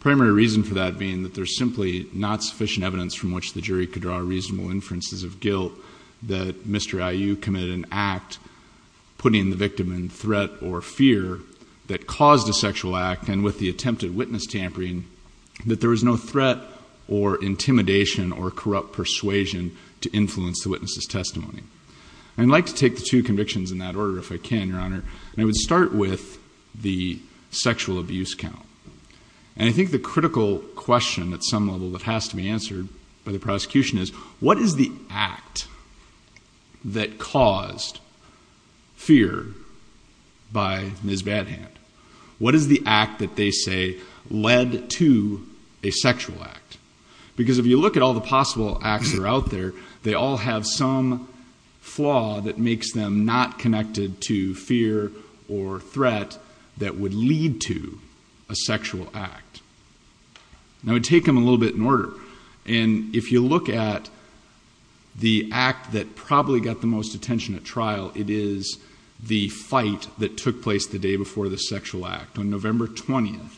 primary reason for that being that there's simply not sufficient evidence from which the jury could draw reasonable inferences of guilt that Mr. Iu committed an act putting the victim in threat or fear that caused a sexual act and with the attempted witness tampering that there was no threat or intimidation or corrupt persuasion to influence the witness's testimony. I'd like to take the two convictions in that order if I can your honor and I would start with the sexual abuse count and I think the critical question at some level that has to be answered by the prosecution is what is the act that caused fear by Ms. Badhand? What is the act that they say led to a sexual act? Because if you look at all the possible acts that are out there they all have some flaw that makes them not connected to fear or threat that would lead to a sexual act. Now we take them a little bit in order and if you look at the act that probably got the most attention at trial it is the fight that took place the day before the sexual act on November 20th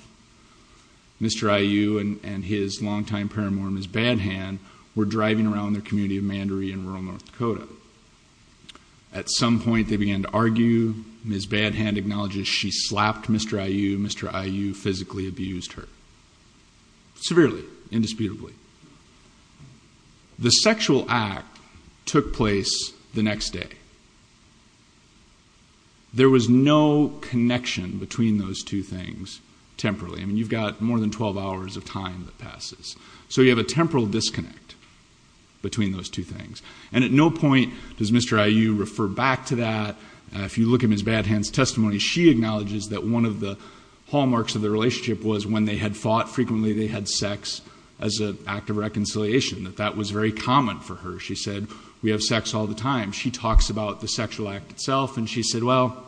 Mr. Iu and his longtime paramour Ms. Badhand were driving around the community of Mandaree in rural North Dakota. At some point they began to argue. Ms. Badhand acknowledges she slapped Mr. Iu. Mr. Iu physically abused her. Severely, indisputably. The sexual act took place the next day. There was no connection between those two things temporarily. You've got more than 12 hours of time that passes. So you have a temporal disconnect between those two things. And at no point does Mr. Iu refer back to that. If you look at Ms. Badhand's testimony she acknowledges that one of the hallmarks of the relationship was when they had fought frequently they had sex as an act of reconciliation. That was very common for her. She said we have sex all the time. She talks about the sexual act itself and she said well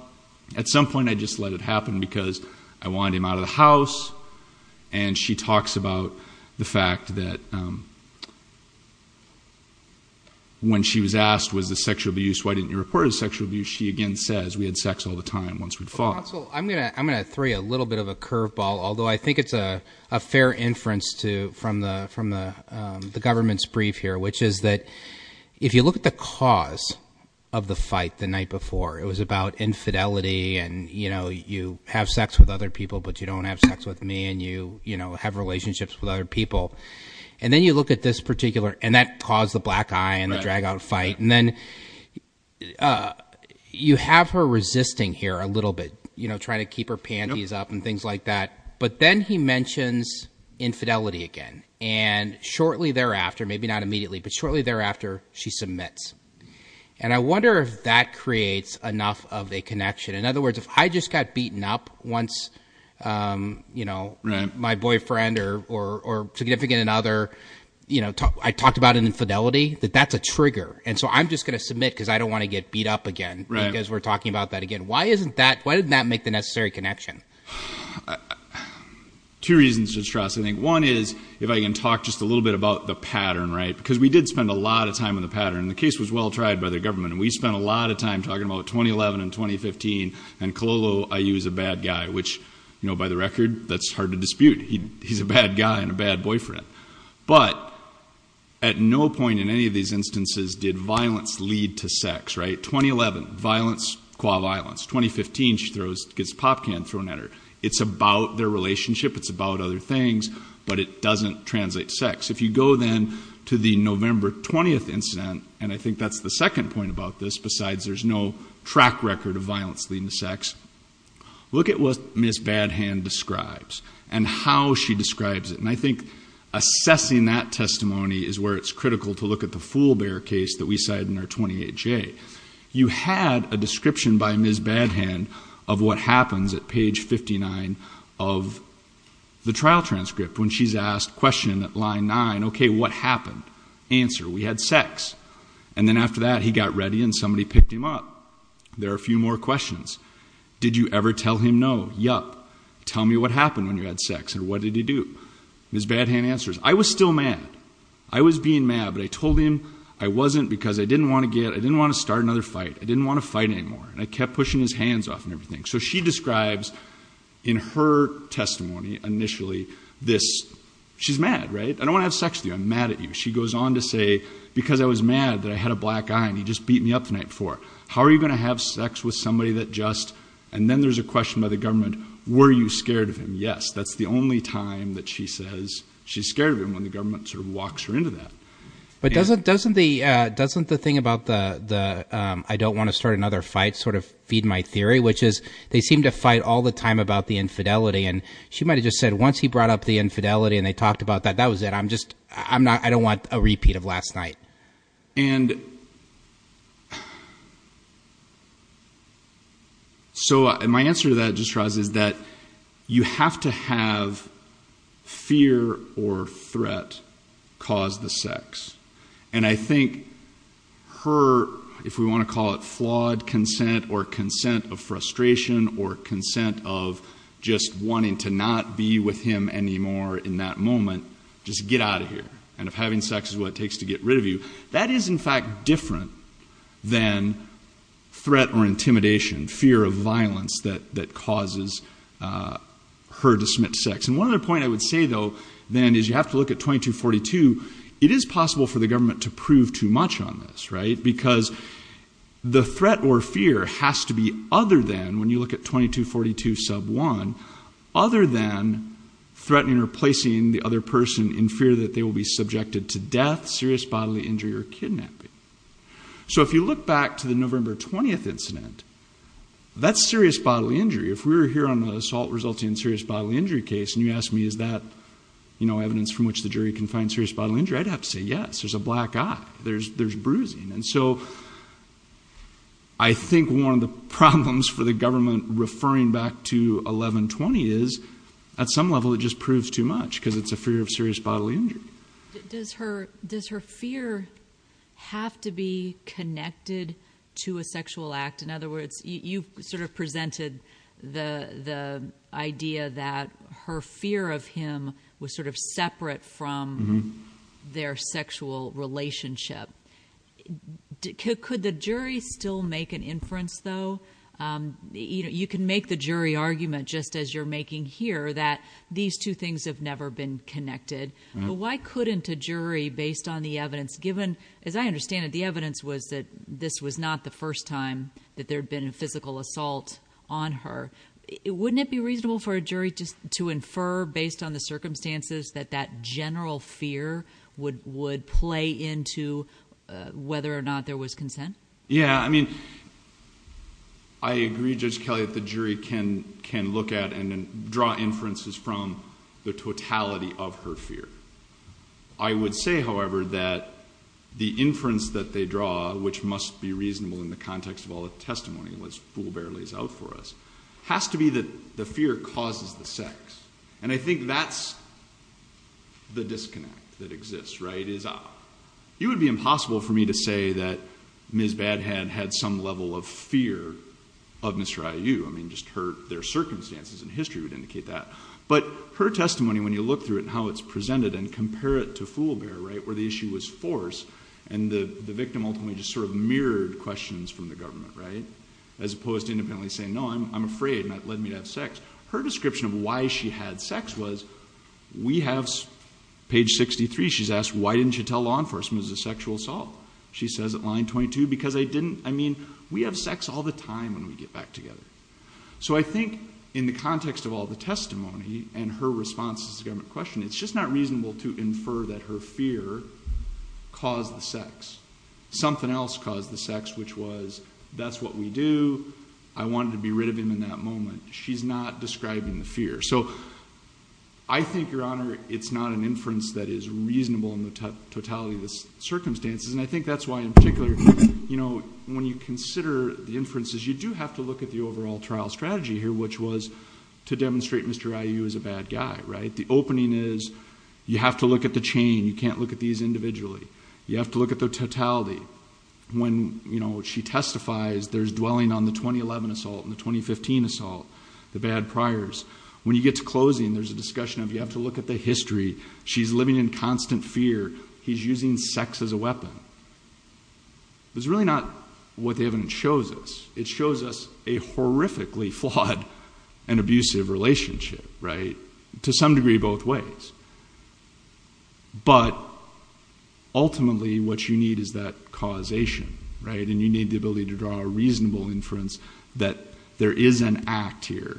at some point I just let it happen because I wanted him out of the house. And she talks about the fact that when she was asked was this sexual abuse why didn't you report it as sexual abuse she again says we had sex all the time once we fought. I'm going to throw you a little bit of a curveball although I think it's a fair inference from the government's brief here which is that if you look at the cause of the fight the night before it was about infidelity and you know you have sex with other people but you don't have sex with me and you you know have relationships with other people and then you look at this particular and that caused the black eye and the drag out fight and then you have her resisting here a little bit you know trying to keep her panties up and things like that but then he mentions infidelity again and shortly thereafter maybe not immediately but shortly thereafter she submits. And I wonder if that creates enough of a connection in other words if I just got beaten up once you know my boyfriend or significant another you know I talked about an infidelity that that's a trigger and so I'm just going to submit because I don't want to get beat up again because we're talking about that again. Why isn't that why didn't that make the necessary connection? Two reasons just trust I think one is if I can talk just a little bit about the pattern right because we did spend a lot of time on the pattern the case was well tried by the government and we spent a lot of time talking about 2011 and 2015 and Cololo IU is a bad guy which you know by the record that's hard to dispute he's a bad guy and a bad boyfriend but at no point in any of these instances did violence lead to sex right 2011 violence qua violence 2015 she throws gets a pop can thrown at her it's about their relationship it's about other things but it doesn't translate sex. If you go then to the November 20th incident and I think that's the second point about this besides there's no track record of violence leading to sex look at what Miss Badhand describes and how she describes it and I think assessing that testimony is where it's critical to look at the foolbear case that we cited in our 28J. You had a description by Miss Badhand of what happens at page 59 of the trial transcript when she's asked question at line 9 okay what happened answer we had sex and then after that he got ready and somebody picked him up there are a few more questions did you ever tell him no yup tell me what happened when you had sex and what did he do Miss Badhand answers I was still mad I was being mad but I told him I wasn't because I didn't want to get I didn't want to start another fight I didn't want to fight anymore and I kept pushing his hands off and everything so she describes in her testimony initially this she's mad right I don't want to have sex with you I'm mad at you she goes on to say because I was mad that I had a black eye and he just beat me up the night before how are you going to have sex with somebody that just and then there's a question by the government were you scared of him yes that's the only time that she says she's scared of him when the government sort of walks her into that. But doesn't the thing about the I don't want to start another fight sort of feed my theory which is they seem to fight all the time about the infidelity and she might have just said once he brought up the infidelity and they talked about that that was it I'm just I'm not I don't want a repeat of last night and so my answer to that just rises that you have to have fear or threat cause the sex and I we want to call it flawed consent or consent of frustration or consent of just wanting to not be with him anymore in that moment just get out of here and if having sex is what it takes to get rid of you that is in fact different than threat or intimidation fear of violence that that causes her to submit sex and one other point I would say though then is you have to look at 2242 it is possible for the government to prove too much on this right because the threat or fear has to be other than when you look at 2242 sub 1 other than threatening or placing the other person in fear that they will be subjected to death serious bodily injury or kidnapping so if you look back to the November 20th incident that's serious bodily injury if we're here on the assault resulting in serious bodily injury case and you ask me is that you know evidence from which the jury can find serious bodily injury I'd have to say yes there's a black eye there's there's bruising and so I think one of the problems for the government referring back to 1120 is at some level it just proves too much because it's a fear of serious bodily injury does her does her fear have to be connected to a sexual act in other words you sort of presented the the idea that her fear of him was sort of separate from their sexual relationship could the jury still make an inference though you know you can make the jury argument just as you're making here that these two things have never been connected but why couldn't a jury based on the evidence given as I understand it the evidence was that this was not the first time that there had been a jury just to infer based on the circumstances that that general fear would would play into whether or not there was consent yeah I mean I agree just Kelly at the jury can can look at and then draw inferences from the totality of her fear I would say however that the inference that they draw which must be reasonable in the context of all the testimony was fool barely is out for us has to be that the fear causes the sex and I think that's the disconnect that exists right is up you would be impossible for me to say that ms. bad had had some level of fear of mr. IU I mean just hurt their circumstances in history would indicate that but her testimony when you look through it and how it's presented and compare it to foolbear right where the issue was force and the the victim ultimately just sort of mirrored questions from the government right as opposed to saying no I'm afraid not let me have sex her description of why she had sex was we have page 63 she's asked why didn't you tell law enforcement is a sexual assault she says at line 22 because I didn't I mean we have sex all the time when we get back together so I think in the context of all the testimony and her response is a government question it's just not reasonable to infer that her fear caused the sex something else caused the sex which was that's what we do I wanted to be rid of him in that moment she's not describing the fear so I think your honor it's not an inference that is reasonable in the totality of the circumstances and I think that's why in particular you know when you consider the inferences you do have to look at the overall trial strategy here which was to demonstrate mr. IU is a bad guy right the opening is you have to look at the chain you individually you have to look at the totality when you know she testifies there's dwelling on the 2011 assault in the 2015 assault the bad priors when you get to closing there's a discussion of you have to look at the history she's living in constant fear he's using sex as a weapon there's really not what the evidence shows us it shows us a horrifically flawed and abusive relationship right to some degree both ways but ultimately what you need is that causation right and you need the ability to draw a reasonable inference that there is an act here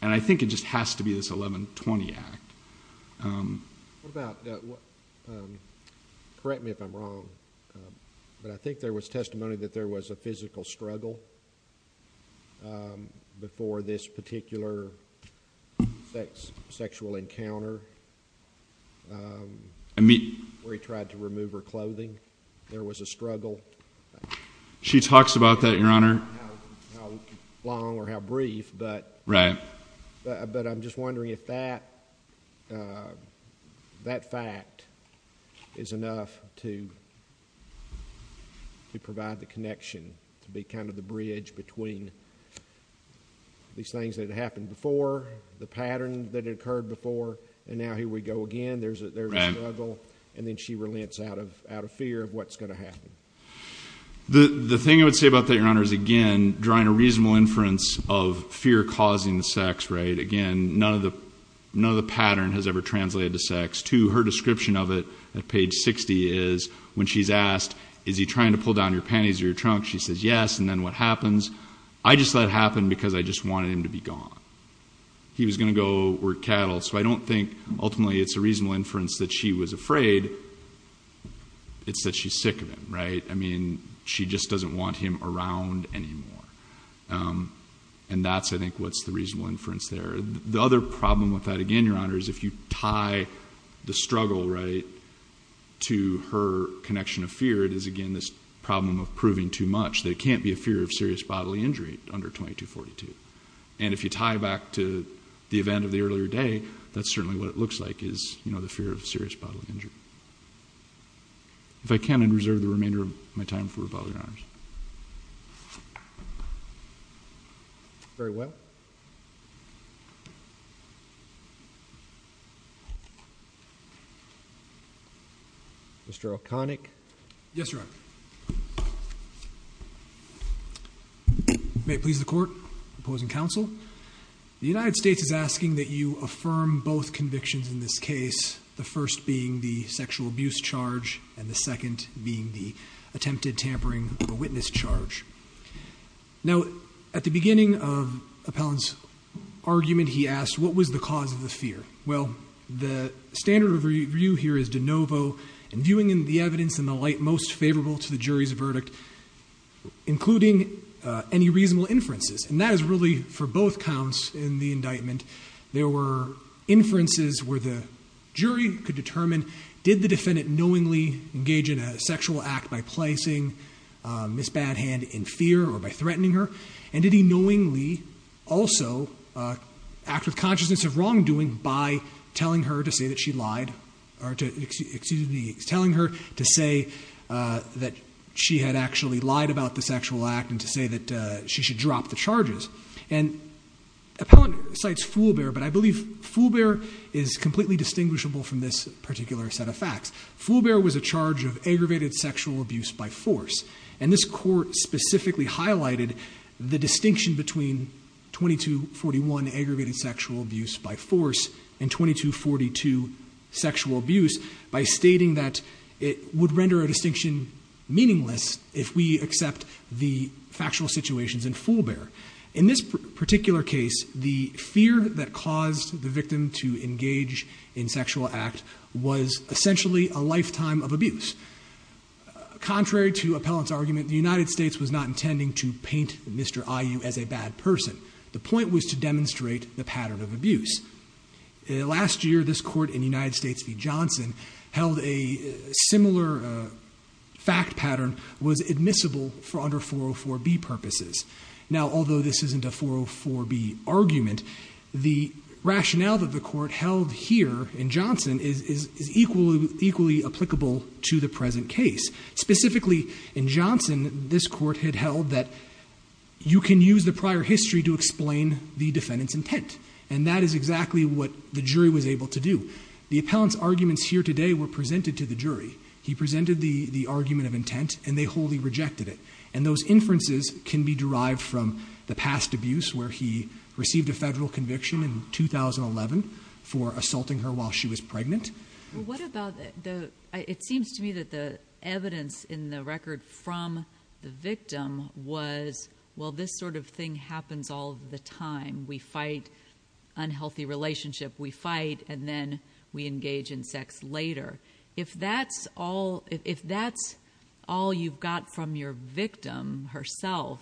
and I think it just has to be this 1120 act correct me if I'm wrong but I think there was testimony that there was a physical struggle before this particular sexual encounter I mean we tried to remove her clothing there was a struggle she talks about that your honor long or how brief but right but I'm just wondering if that that fact is enough to to provide the connection to be kind of the bridge between these things that happened before the pattern that had occurred before and now here we go again there's a little and then she relents out of out of fear of what's going to happen the the thing I would say about that your honor is again drawing a reasonable inference of fear causing the sex right again none of the another pattern has ever translated to sex to her description of it at page 60 is when she's asked is he trying to pull down your panties or your trunk she says yes and then what happens I just let happen because I just wanted him to be gone he was gonna go work cattle so I don't think ultimately it's a reasonable inference that she was afraid it's that she's sick of it right I mean she just doesn't want him around anymore and that's I think what's the reasonable inference there the other problem with that again your honor is if you tie the struggle right to her connection of fear it is again this problem of proving too much they can't be a fear of serious bodily injury under 2242 and if you tie back to the event of the earlier day that's certainly what it looks like is you know the fear of serious bodily injury if I can and reserve the remainder of my time for a public arms very well mr. O'connick yes right may please the court opposing counsel the United States is asking that you affirm both convictions in this case the first being the sexual abuse charge and the second being the attempted tampering of a witness charge now at the beginning of appellants argument he asked what was the cause of the fear well the standard of review here is de novo and viewing in the evidence in the light most favorable to the jury's verdict including any reasonable inferences and that is for both counts in the indictment there were inferences where the jury could determine did the defendant knowingly engage in a sexual act by placing miss bad hand in fear or by threatening her and did he knowingly also act with consciousness of wrongdoing by telling her to say that she lied or to excuse me telling her to say that she had actually lied about the sexual act and to say that she should drop the charges and appellant sites foolbear but I believe foolbear is completely distinguishable from this particular set of facts foolbear was a charge of aggravated sexual abuse by force and this court specifically highlighted the distinction between 2241 aggravated sexual abuse by force and 2242 sexual abuse by stating that it would render a distinction meaningless if we accept the factual situations in foolbear in this particular case the fear that caused the victim to engage in sexual act was essentially a lifetime of abuse contrary to appellants argument the United States was not intending to paint mr. IU as a bad person the point was to demonstrate the pattern of abuse last year this court in United States v. Johnson held a similar fact pattern was admissible for under 404 B purposes now although this isn't a 404 B argument the rationale that the court held here in Johnson is equally equally applicable to the present case specifically in Johnson this court had held that you can use the prior history to explain the defendants intent and that is exactly what the jury was able to do the appellants arguments here today were presented to the jury he presented the the argument of intent and they wholly rejected it and those inferences can be derived from the past abuse where he received a federal conviction in 2011 for assaulting her while she was pregnant it seems to me that the evidence in the record from the victim was well this sort of thing happens all the time we fight unhealthy relationship we engage in sex later if that's all if that's all you've got from your victim herself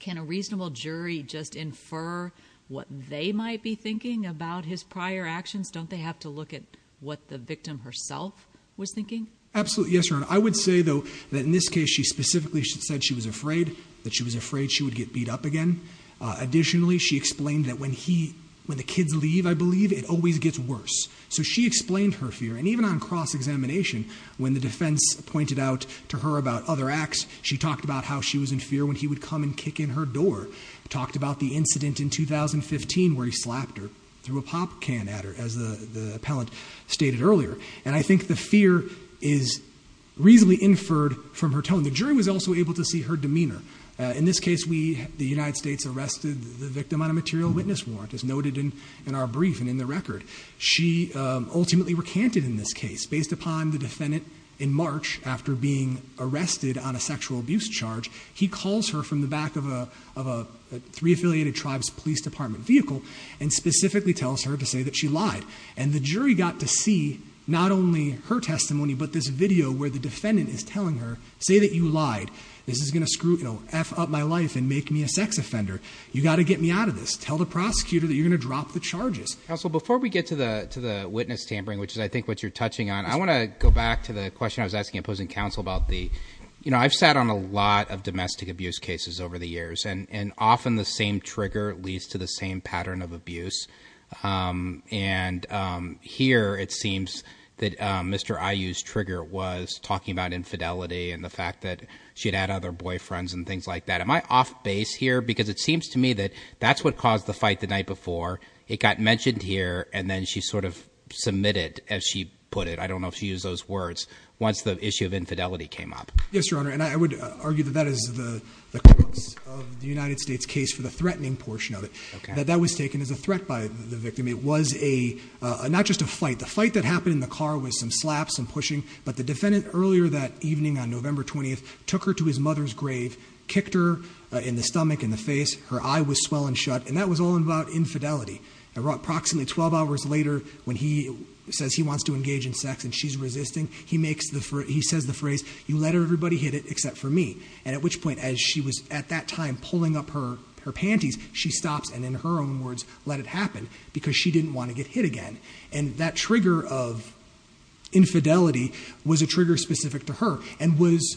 can a reasonable jury just infer what they might be thinking about his prior actions don't they have to look at what the victim herself was thinking absolutely yes or no I would say though that in this case she specifically should said she was afraid that she was afraid she would get beat up again additionally she explained that when he when the kids leave I believe it always gets worse so she explained her fear and even on cross-examination when the defense pointed out to her about other acts she talked about how she was in fear when he would come and kick in her door talked about the incident in 2015 where he slapped her through a pop can at her as the the appellant stated earlier and I think the fear is reasonably inferred from her tone the jury was also able to see her demeanor in this case we the United States arrested the victim on a material witness warrant as noted in in our brief and in the record she ultimately recanted in this case based upon the defendant in March after being arrested on a sexual abuse charge he calls her from the back of a three affiliated tribes Police Department vehicle and specifically tells her to say that she lied and the jury got to see not only her testimony but this video where the defendant is telling her say that you lied this is gonna screw you know f up my life and make me a sex offender you got to get me out of this tell the prosecutor that you're gonna drop the charges also before we get to the to the witness tampering which is I think what you're touching on I want to go back to the question I was asking opposing counsel about the you know I've sat on a lot of domestic abuse cases over the years and and often the same trigger leads to the same pattern of abuse and here it should add other boyfriends and things like that am I off base here because it seems to me that that's what caused the fight the night before it got mentioned here and then she sort of submitted as she put it I don't know if she used those words once the issue of infidelity came up yes your honor and I would argue that that is the United States case for the threatening portion of it that that was taken as a threat by the victim it was a not just a fight the fight that happened in the car with some slaps and pushing but the defendant earlier that evening on November took her to his mother's grave kicked her in the stomach in the face her eye was swollen shut and that was all about infidelity I brought approximately 12 hours later when he says he wants to engage in sex and she's resisting he makes the for he says the phrase you let everybody hit it except for me and at which point as she was at that time pulling up her her panties she stops and in her own words let it happen because she didn't want to get hit again and that trigger of infidelity was a trigger specific to her and was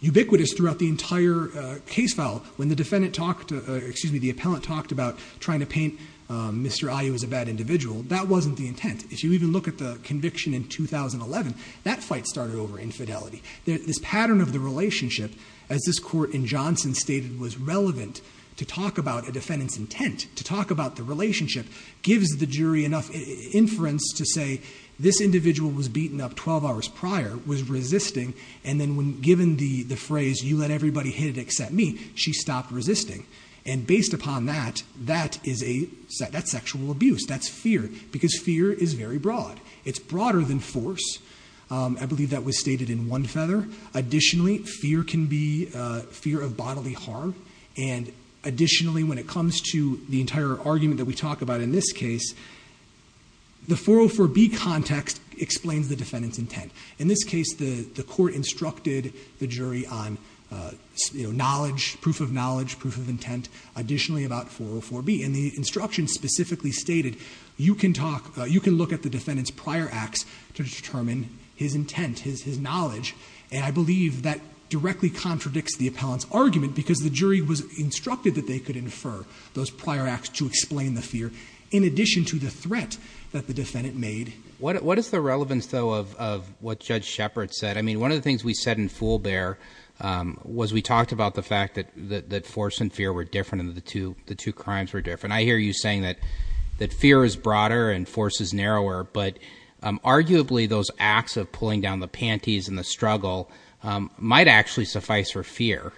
ubiquitous throughout the entire case file when the defendant talked to excuse me the appellant talked about trying to paint mr. I was a bad individual that wasn't the intent if you even look at the conviction in 2011 that fight started over infidelity this pattern of the relationship as this court in Johnson stated was relevant to talk about a defendant's intent to talk about the relationship gives the jury enough inference to say this individual was beaten up 12 hours prior was resisting and then when given the the phrase you let everybody hit it except me she stopped resisting and based upon that that is a set that's sexual abuse that's fear because fear is very broad it's broader than force I believe that was stated in one feather additionally fear can be fear of bodily harm and additionally when it comes to the entire argument that we talked about in this case the 404 B context explains the defendant's intent in this case the the court instructed the jury on you know knowledge proof of knowledge proof of intent additionally about 404 B and the instruction specifically stated you can talk you can look at the defendants prior acts to determine his intent his knowledge and I believe that directly contradicts the appellants argument because the jury was instructed that they could those prior acts to explain the fear in addition to the threat that the defendant made what is the relevance though of what Judge Shepard said I mean one of the things we said in full bear was we talked about the fact that that force and fear were different in the two the two crimes were different I hear you saying that that fear is broader and force is narrower but arguably those acts of pulling down the panties and the struggle might actually suffice for fear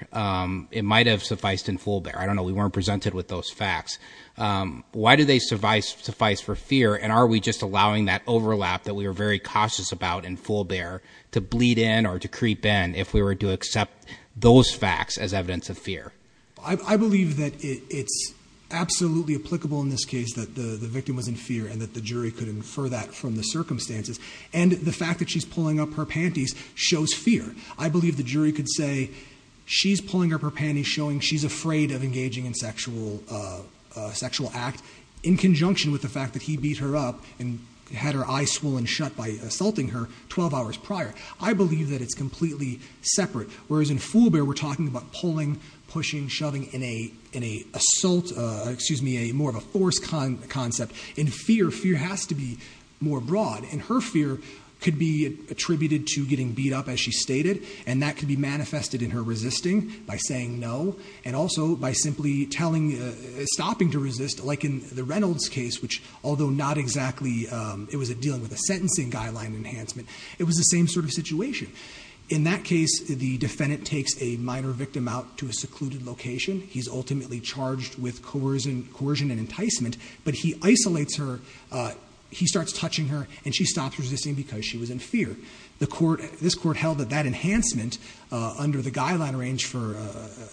it might have sufficed in full bear I don't know we weren't presented with those facts why do they suffice suffice for fear and are we just allowing that overlap that we were very cautious about in full bear to bleed in or to creep in if we were to accept those facts as evidence of fear I believe that it's absolutely applicable in this case that the the victim was in fear and that the jury could infer that from the circumstances and the fact that she's pulling up her panties shows fear I she's pulling up her panties showing she's afraid of engaging in sexual sexual act in conjunction with the fact that he beat her up and had her eyes swollen shut by assaulting her 12 hours prior I believe that it's completely separate whereas in full bear we're talking about pulling pushing shoving in a in a assault excuse me a more of a force con concept in fear fear has to be more broad and her fear could be attributed to getting beat up as she stated and that could be manifested in her resisting by saying no and also by simply telling stopping to resist like in the Reynolds case which although not exactly it was a dealing with a sentencing guideline enhancement it was the same sort of situation in that case the defendant takes a minor victim out to a secluded location he's ultimately charged with coercion coercion and enticement but he isolates her he starts touching her and she stops resisting because she was in fear the court this court held that enhancement under the guideline range for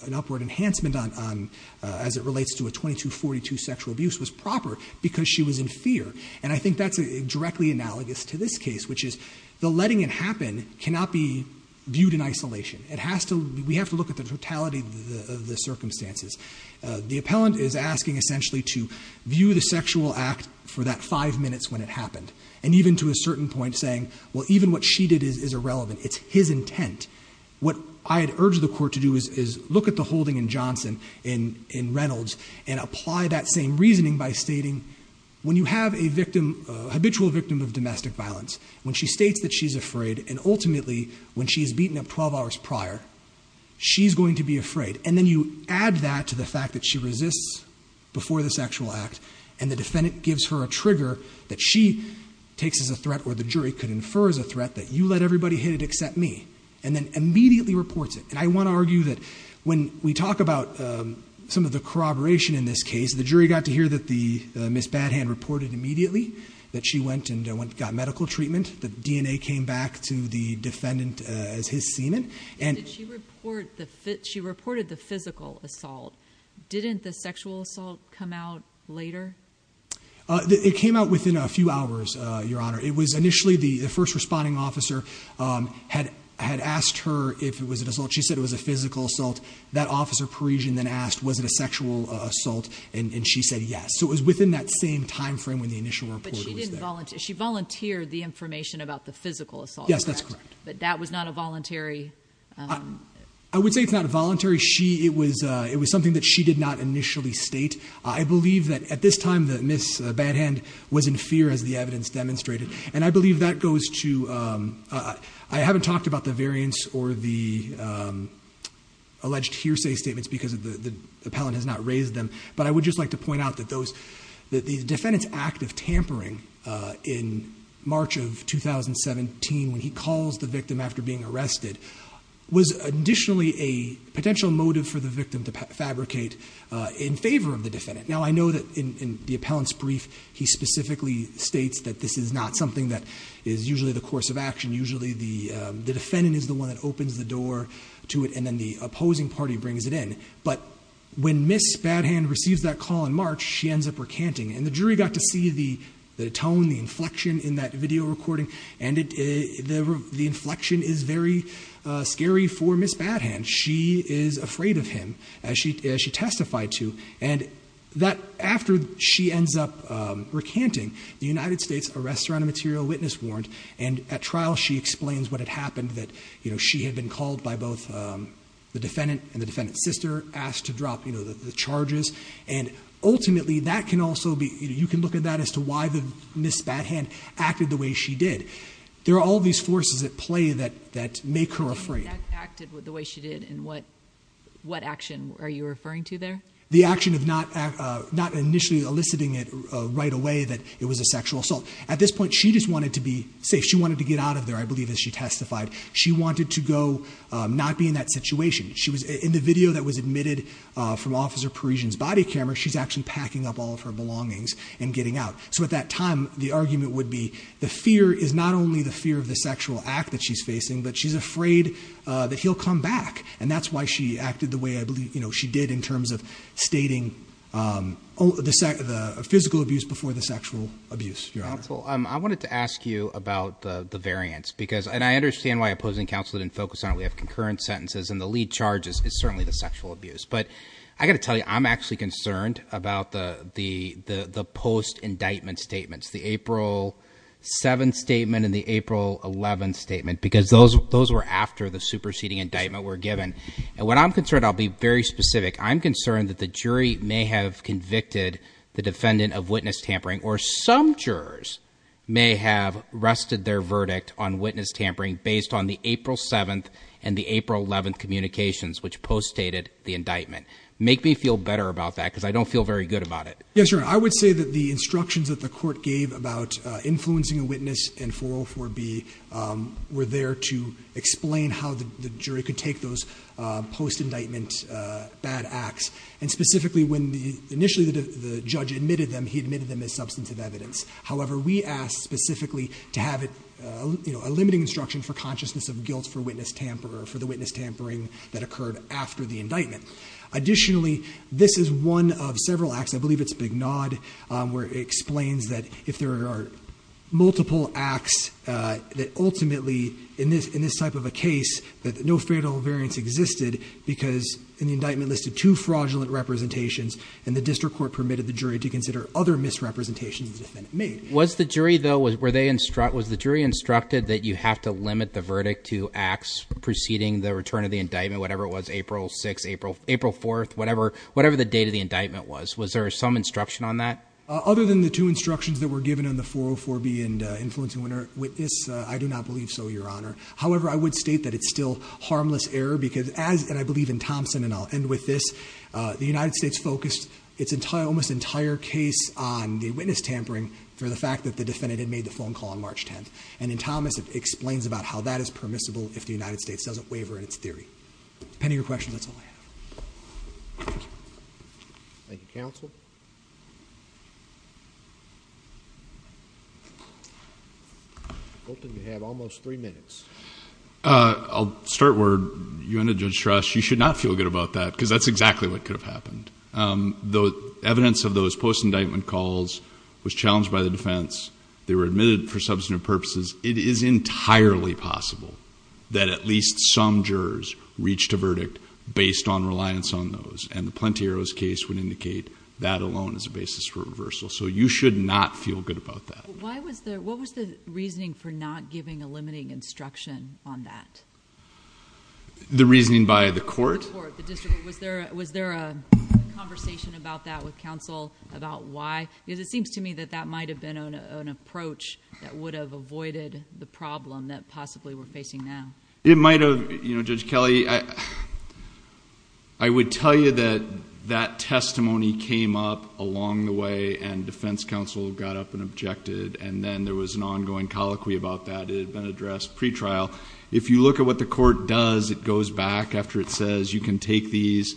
an upward enhancement on as it relates to a 2242 sexual abuse was proper because she was in fear and I think that's a directly analogous to this case which is the letting it happen cannot be viewed in isolation it has to we have to look at the totality of the circumstances the appellant is asking essentially to view the sexual act for that five minutes when it happened and even to a certain point saying well even what she did is irrelevant it's his intent what I had urged the court to do is look at the holding in Johnson in in Reynolds and apply that same reasoning by stating when you have a victim habitual victim of domestic violence when she states that she's afraid and ultimately when she's beaten up 12 hours prior she's going to be afraid and then you add that to the fact that she resists before the sexual act and the defendant gives her a trigger that she takes as a threat or the jury could infer as a threat that you let everybody hit it except me and then immediately reports it and I want to argue that when we talk about some of the corroboration in this case the jury got to hear that the miss bad hand reported immediately that she went and went got medical treatment the DNA came back to the defendant as his semen and she reported the physical assault didn't the sexual assault come out later it came out within a few hours your honor it was initially the first responding officer had had asked her if it was an assault she said it was a physical assault that officer Parisian then asked was it a sexual assault and she said yes so it was within that same time frame when the initial report she volunteered the information about the physical assault yes that's correct but that was not a voluntary I would say it's not a voluntary she it was it was something that she did not initially state I believe that at this time that miss a bad hand was in fear as the evidence demonstrated and I believe that goes to I haven't talked about the variance or the alleged hearsay statements because of the appellant has not raised them but I would just like to point out that those that these defendants active tampering in March of 2017 when he calls the victim to fabricate in favor of the defendant now I know that in the appellant's brief he specifically states that this is not something that is usually the course of action usually the the defendant is the one that opens the door to it and then the opposing party brings it in but when miss bad hand receives that call in March she ends up recanting and the jury got to see the the tone the inflection in that video recording and it the inflection is very scary for miss bad hand she is afraid of him as she as she testified to and that after she ends up recanting the United States arrest her on a material witness warrant and at trial she explains what had happened that you know she had been called by both the defendant and the defendant's sister asked to drop you know the charges and ultimately that can also be you can look at that as to why the miss bad hand acted the way she did there are all these forces at play that that make her afraid acted with the way she did and what what action are you referring to there the action of not not initially eliciting it right away that it was a sexual assault at this point she just wanted to be safe she wanted to get out of there I believe as she testified she wanted to go not be in that situation she was in the video that was admitted from officer Parisians body camera she's actually packing up all of her belongings and getting out so at that time the argument would be the fear is not only the fear of the sexual act that she's facing but she's afraid that he'll come back and that's why she acted the way I believe you know she did in terms of stating the second physical abuse before the sexual abuse I wanted to ask you about the the variants because and I understand why opposing counsel didn't focus on we have concurrent sentences and the lead charges is certainly the sexual abuse but I got to tell you I'm actually concerned about the the the post indictment statements the April 7th statement in the April 11th statement because those those were after the superseding indictment were given and what I'm concerned I'll be very specific I'm concerned that the jury may have convicted the defendant of witness tampering or some jurors may have rested their verdict on witness tampering based on the April 7th and the April 11th communications which post dated the indictment make me feel better about that because I don't feel very good about it yes sir I would say that the instructions that the court gave about influencing a witness and 404 B were there to explain how the jury could take those post indictment bad acts and specifically when the initially the judge admitted them he admitted them as substantive evidence however we asked specifically to have it you know a limiting instruction for consciousness of guilt for witness tamper for the witness tampering that occurred after the indictment additionally this is one of several acts I believe it's a big nod where it explains that if there are multiple acts that ultimately in this in this type of a case that no fatal variance existed because in the indictment listed two fraudulent representations and the district court permitted the jury to consider other misrepresentations was the jury though was where they instruct was the jury instructed that you have to limit the verdict to acts preceding the return of the indictment whatever it was April 6 April April 4th whatever whatever the date of the indictment was was there some instruction on that other than the two instructions that were given in the 404 B and influencing winner with this I do not believe so your honor however I would state that it's still harmless error because as and I believe in Thompson and I'll end with this the United States focused its entire almost entire case on the witness tampering for the fact that the defendant had made the phone call on March 10th and in Thomas it explains about how that is permissible if the United States doesn't waver in its theory pending your question that's all I have I'll start word you ended just trust you should not feel good about that because that's exactly what could have happened though evidence of those post indictment calls was possible that at least some jurors reached a verdict based on reliance on those and the Plenty arrows case would indicate that alone is a basis for reversal so you should not feel good about that what was the reasoning for not giving a limiting instruction on that the reasoning by the court was there was there a conversation about that with counsel about why because it seems to it might have you know judge Kelly I I would tell you that that testimony came up along the way and defense counsel got up and objected and then there was an ongoing colloquy about that it had been addressed pretrial if you look at what the court does it goes back after it says you can take these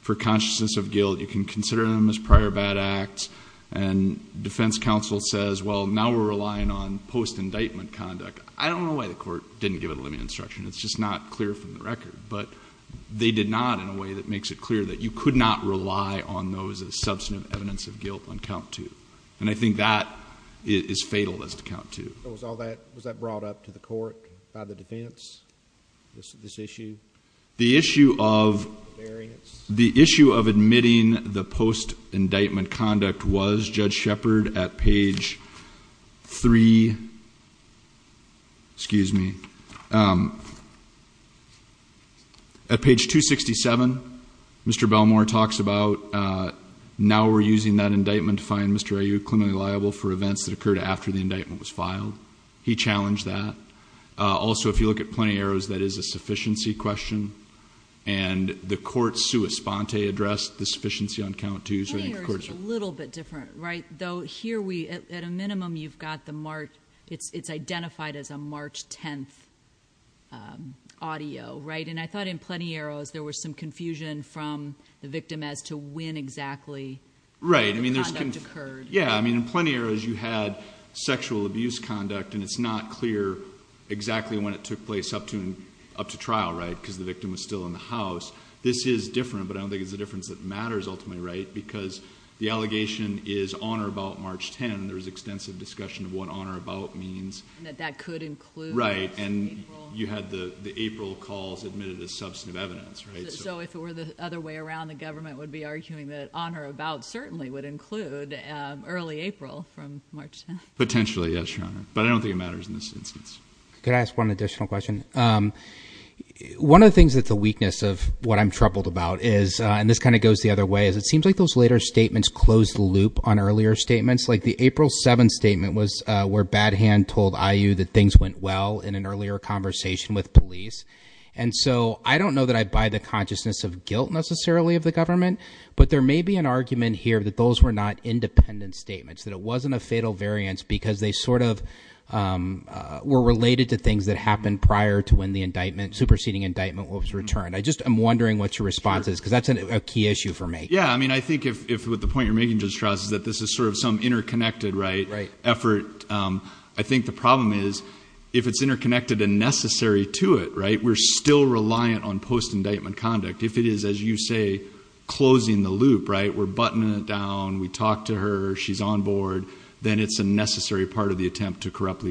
for consciousness of guilt you can consider them as prior bad acts and defense counsel says well now we're relying on post indictment conduct I don't know why the court didn't give it a limit instruction it's just not clear from the record but they did not in a way that makes it clear that you could not rely on those as substantive evidence of guilt on count two and I think that is fatal as to count two was all that was that brought up to the court by the defense this is this issue the issue of the issue of admitting the post indictment conduct was judge shepherd at page three excuse me at page 267 mr. Belmore talks about now we're using that indictment find mr. are you clinically liable for events that occurred after the indictment was filed he challenged that also if you look at plenty arrows that is a sufficiency question and the court's sua sponte addressed the sufficiency on count to use a little bit different right though here we at a minimum you've got the mark it's it's identified as a March 10th audio right and I thought in plenty arrows there was some confusion from the victim as to when exactly right I mean there's been occurred yeah I mean in plenty arrows you had sexual abuse conduct and it's not clear exactly when it took place up to and up to trial right because the victim was still in the house this is different but I don't think it's the difference that matters ultimately right because the allegation is on or about March 10 there was extensive discussion of what honor about means that that could include right and you had the the April calls admitted as substantive evidence right so if it were the other way around the government would be arguing that honor about certainly would include early April from March potentially yes your honor but I don't think it matters in this instance could I ask one of the things that the weakness of what I'm troubled about is and this kind of goes the other way is it seems like those later statements closed the loop on earlier statements like the April 7th statement was where bad hand told IU that things went well in an earlier conversation with police and so I don't know that I buy the consciousness of guilt necessarily of the government but there may be an argument here that those were not independent statements that it wasn't a fatal variance because they sort of were related to things that happened prior to when the indictment superseding indictment was returned I just I'm wondering what your response is because that's a key issue for me yeah I mean I think if with the point you're making just trust that this is sort of some interconnected right right effort I think the problem is if it's interconnected and necessary to it right we're still reliant on post indictment conduct if it is as you say closing the loop right we're buttoning it down we talked to her she's on board then it's a necessary part of the attempt to corruptly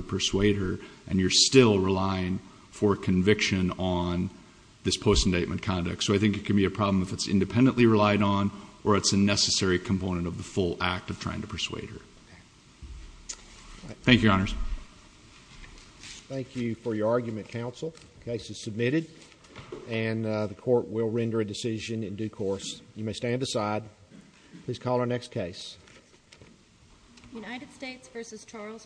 for conviction on this post indictment conduct so I think it can be a problem if it's independently relied on or it's a necessary component of the full act of trying to persuade her thank you honors thank you for your argument counsel case is submitted and the court will render a decision in due course you may stand aside please call our next case United States versus Charles Cross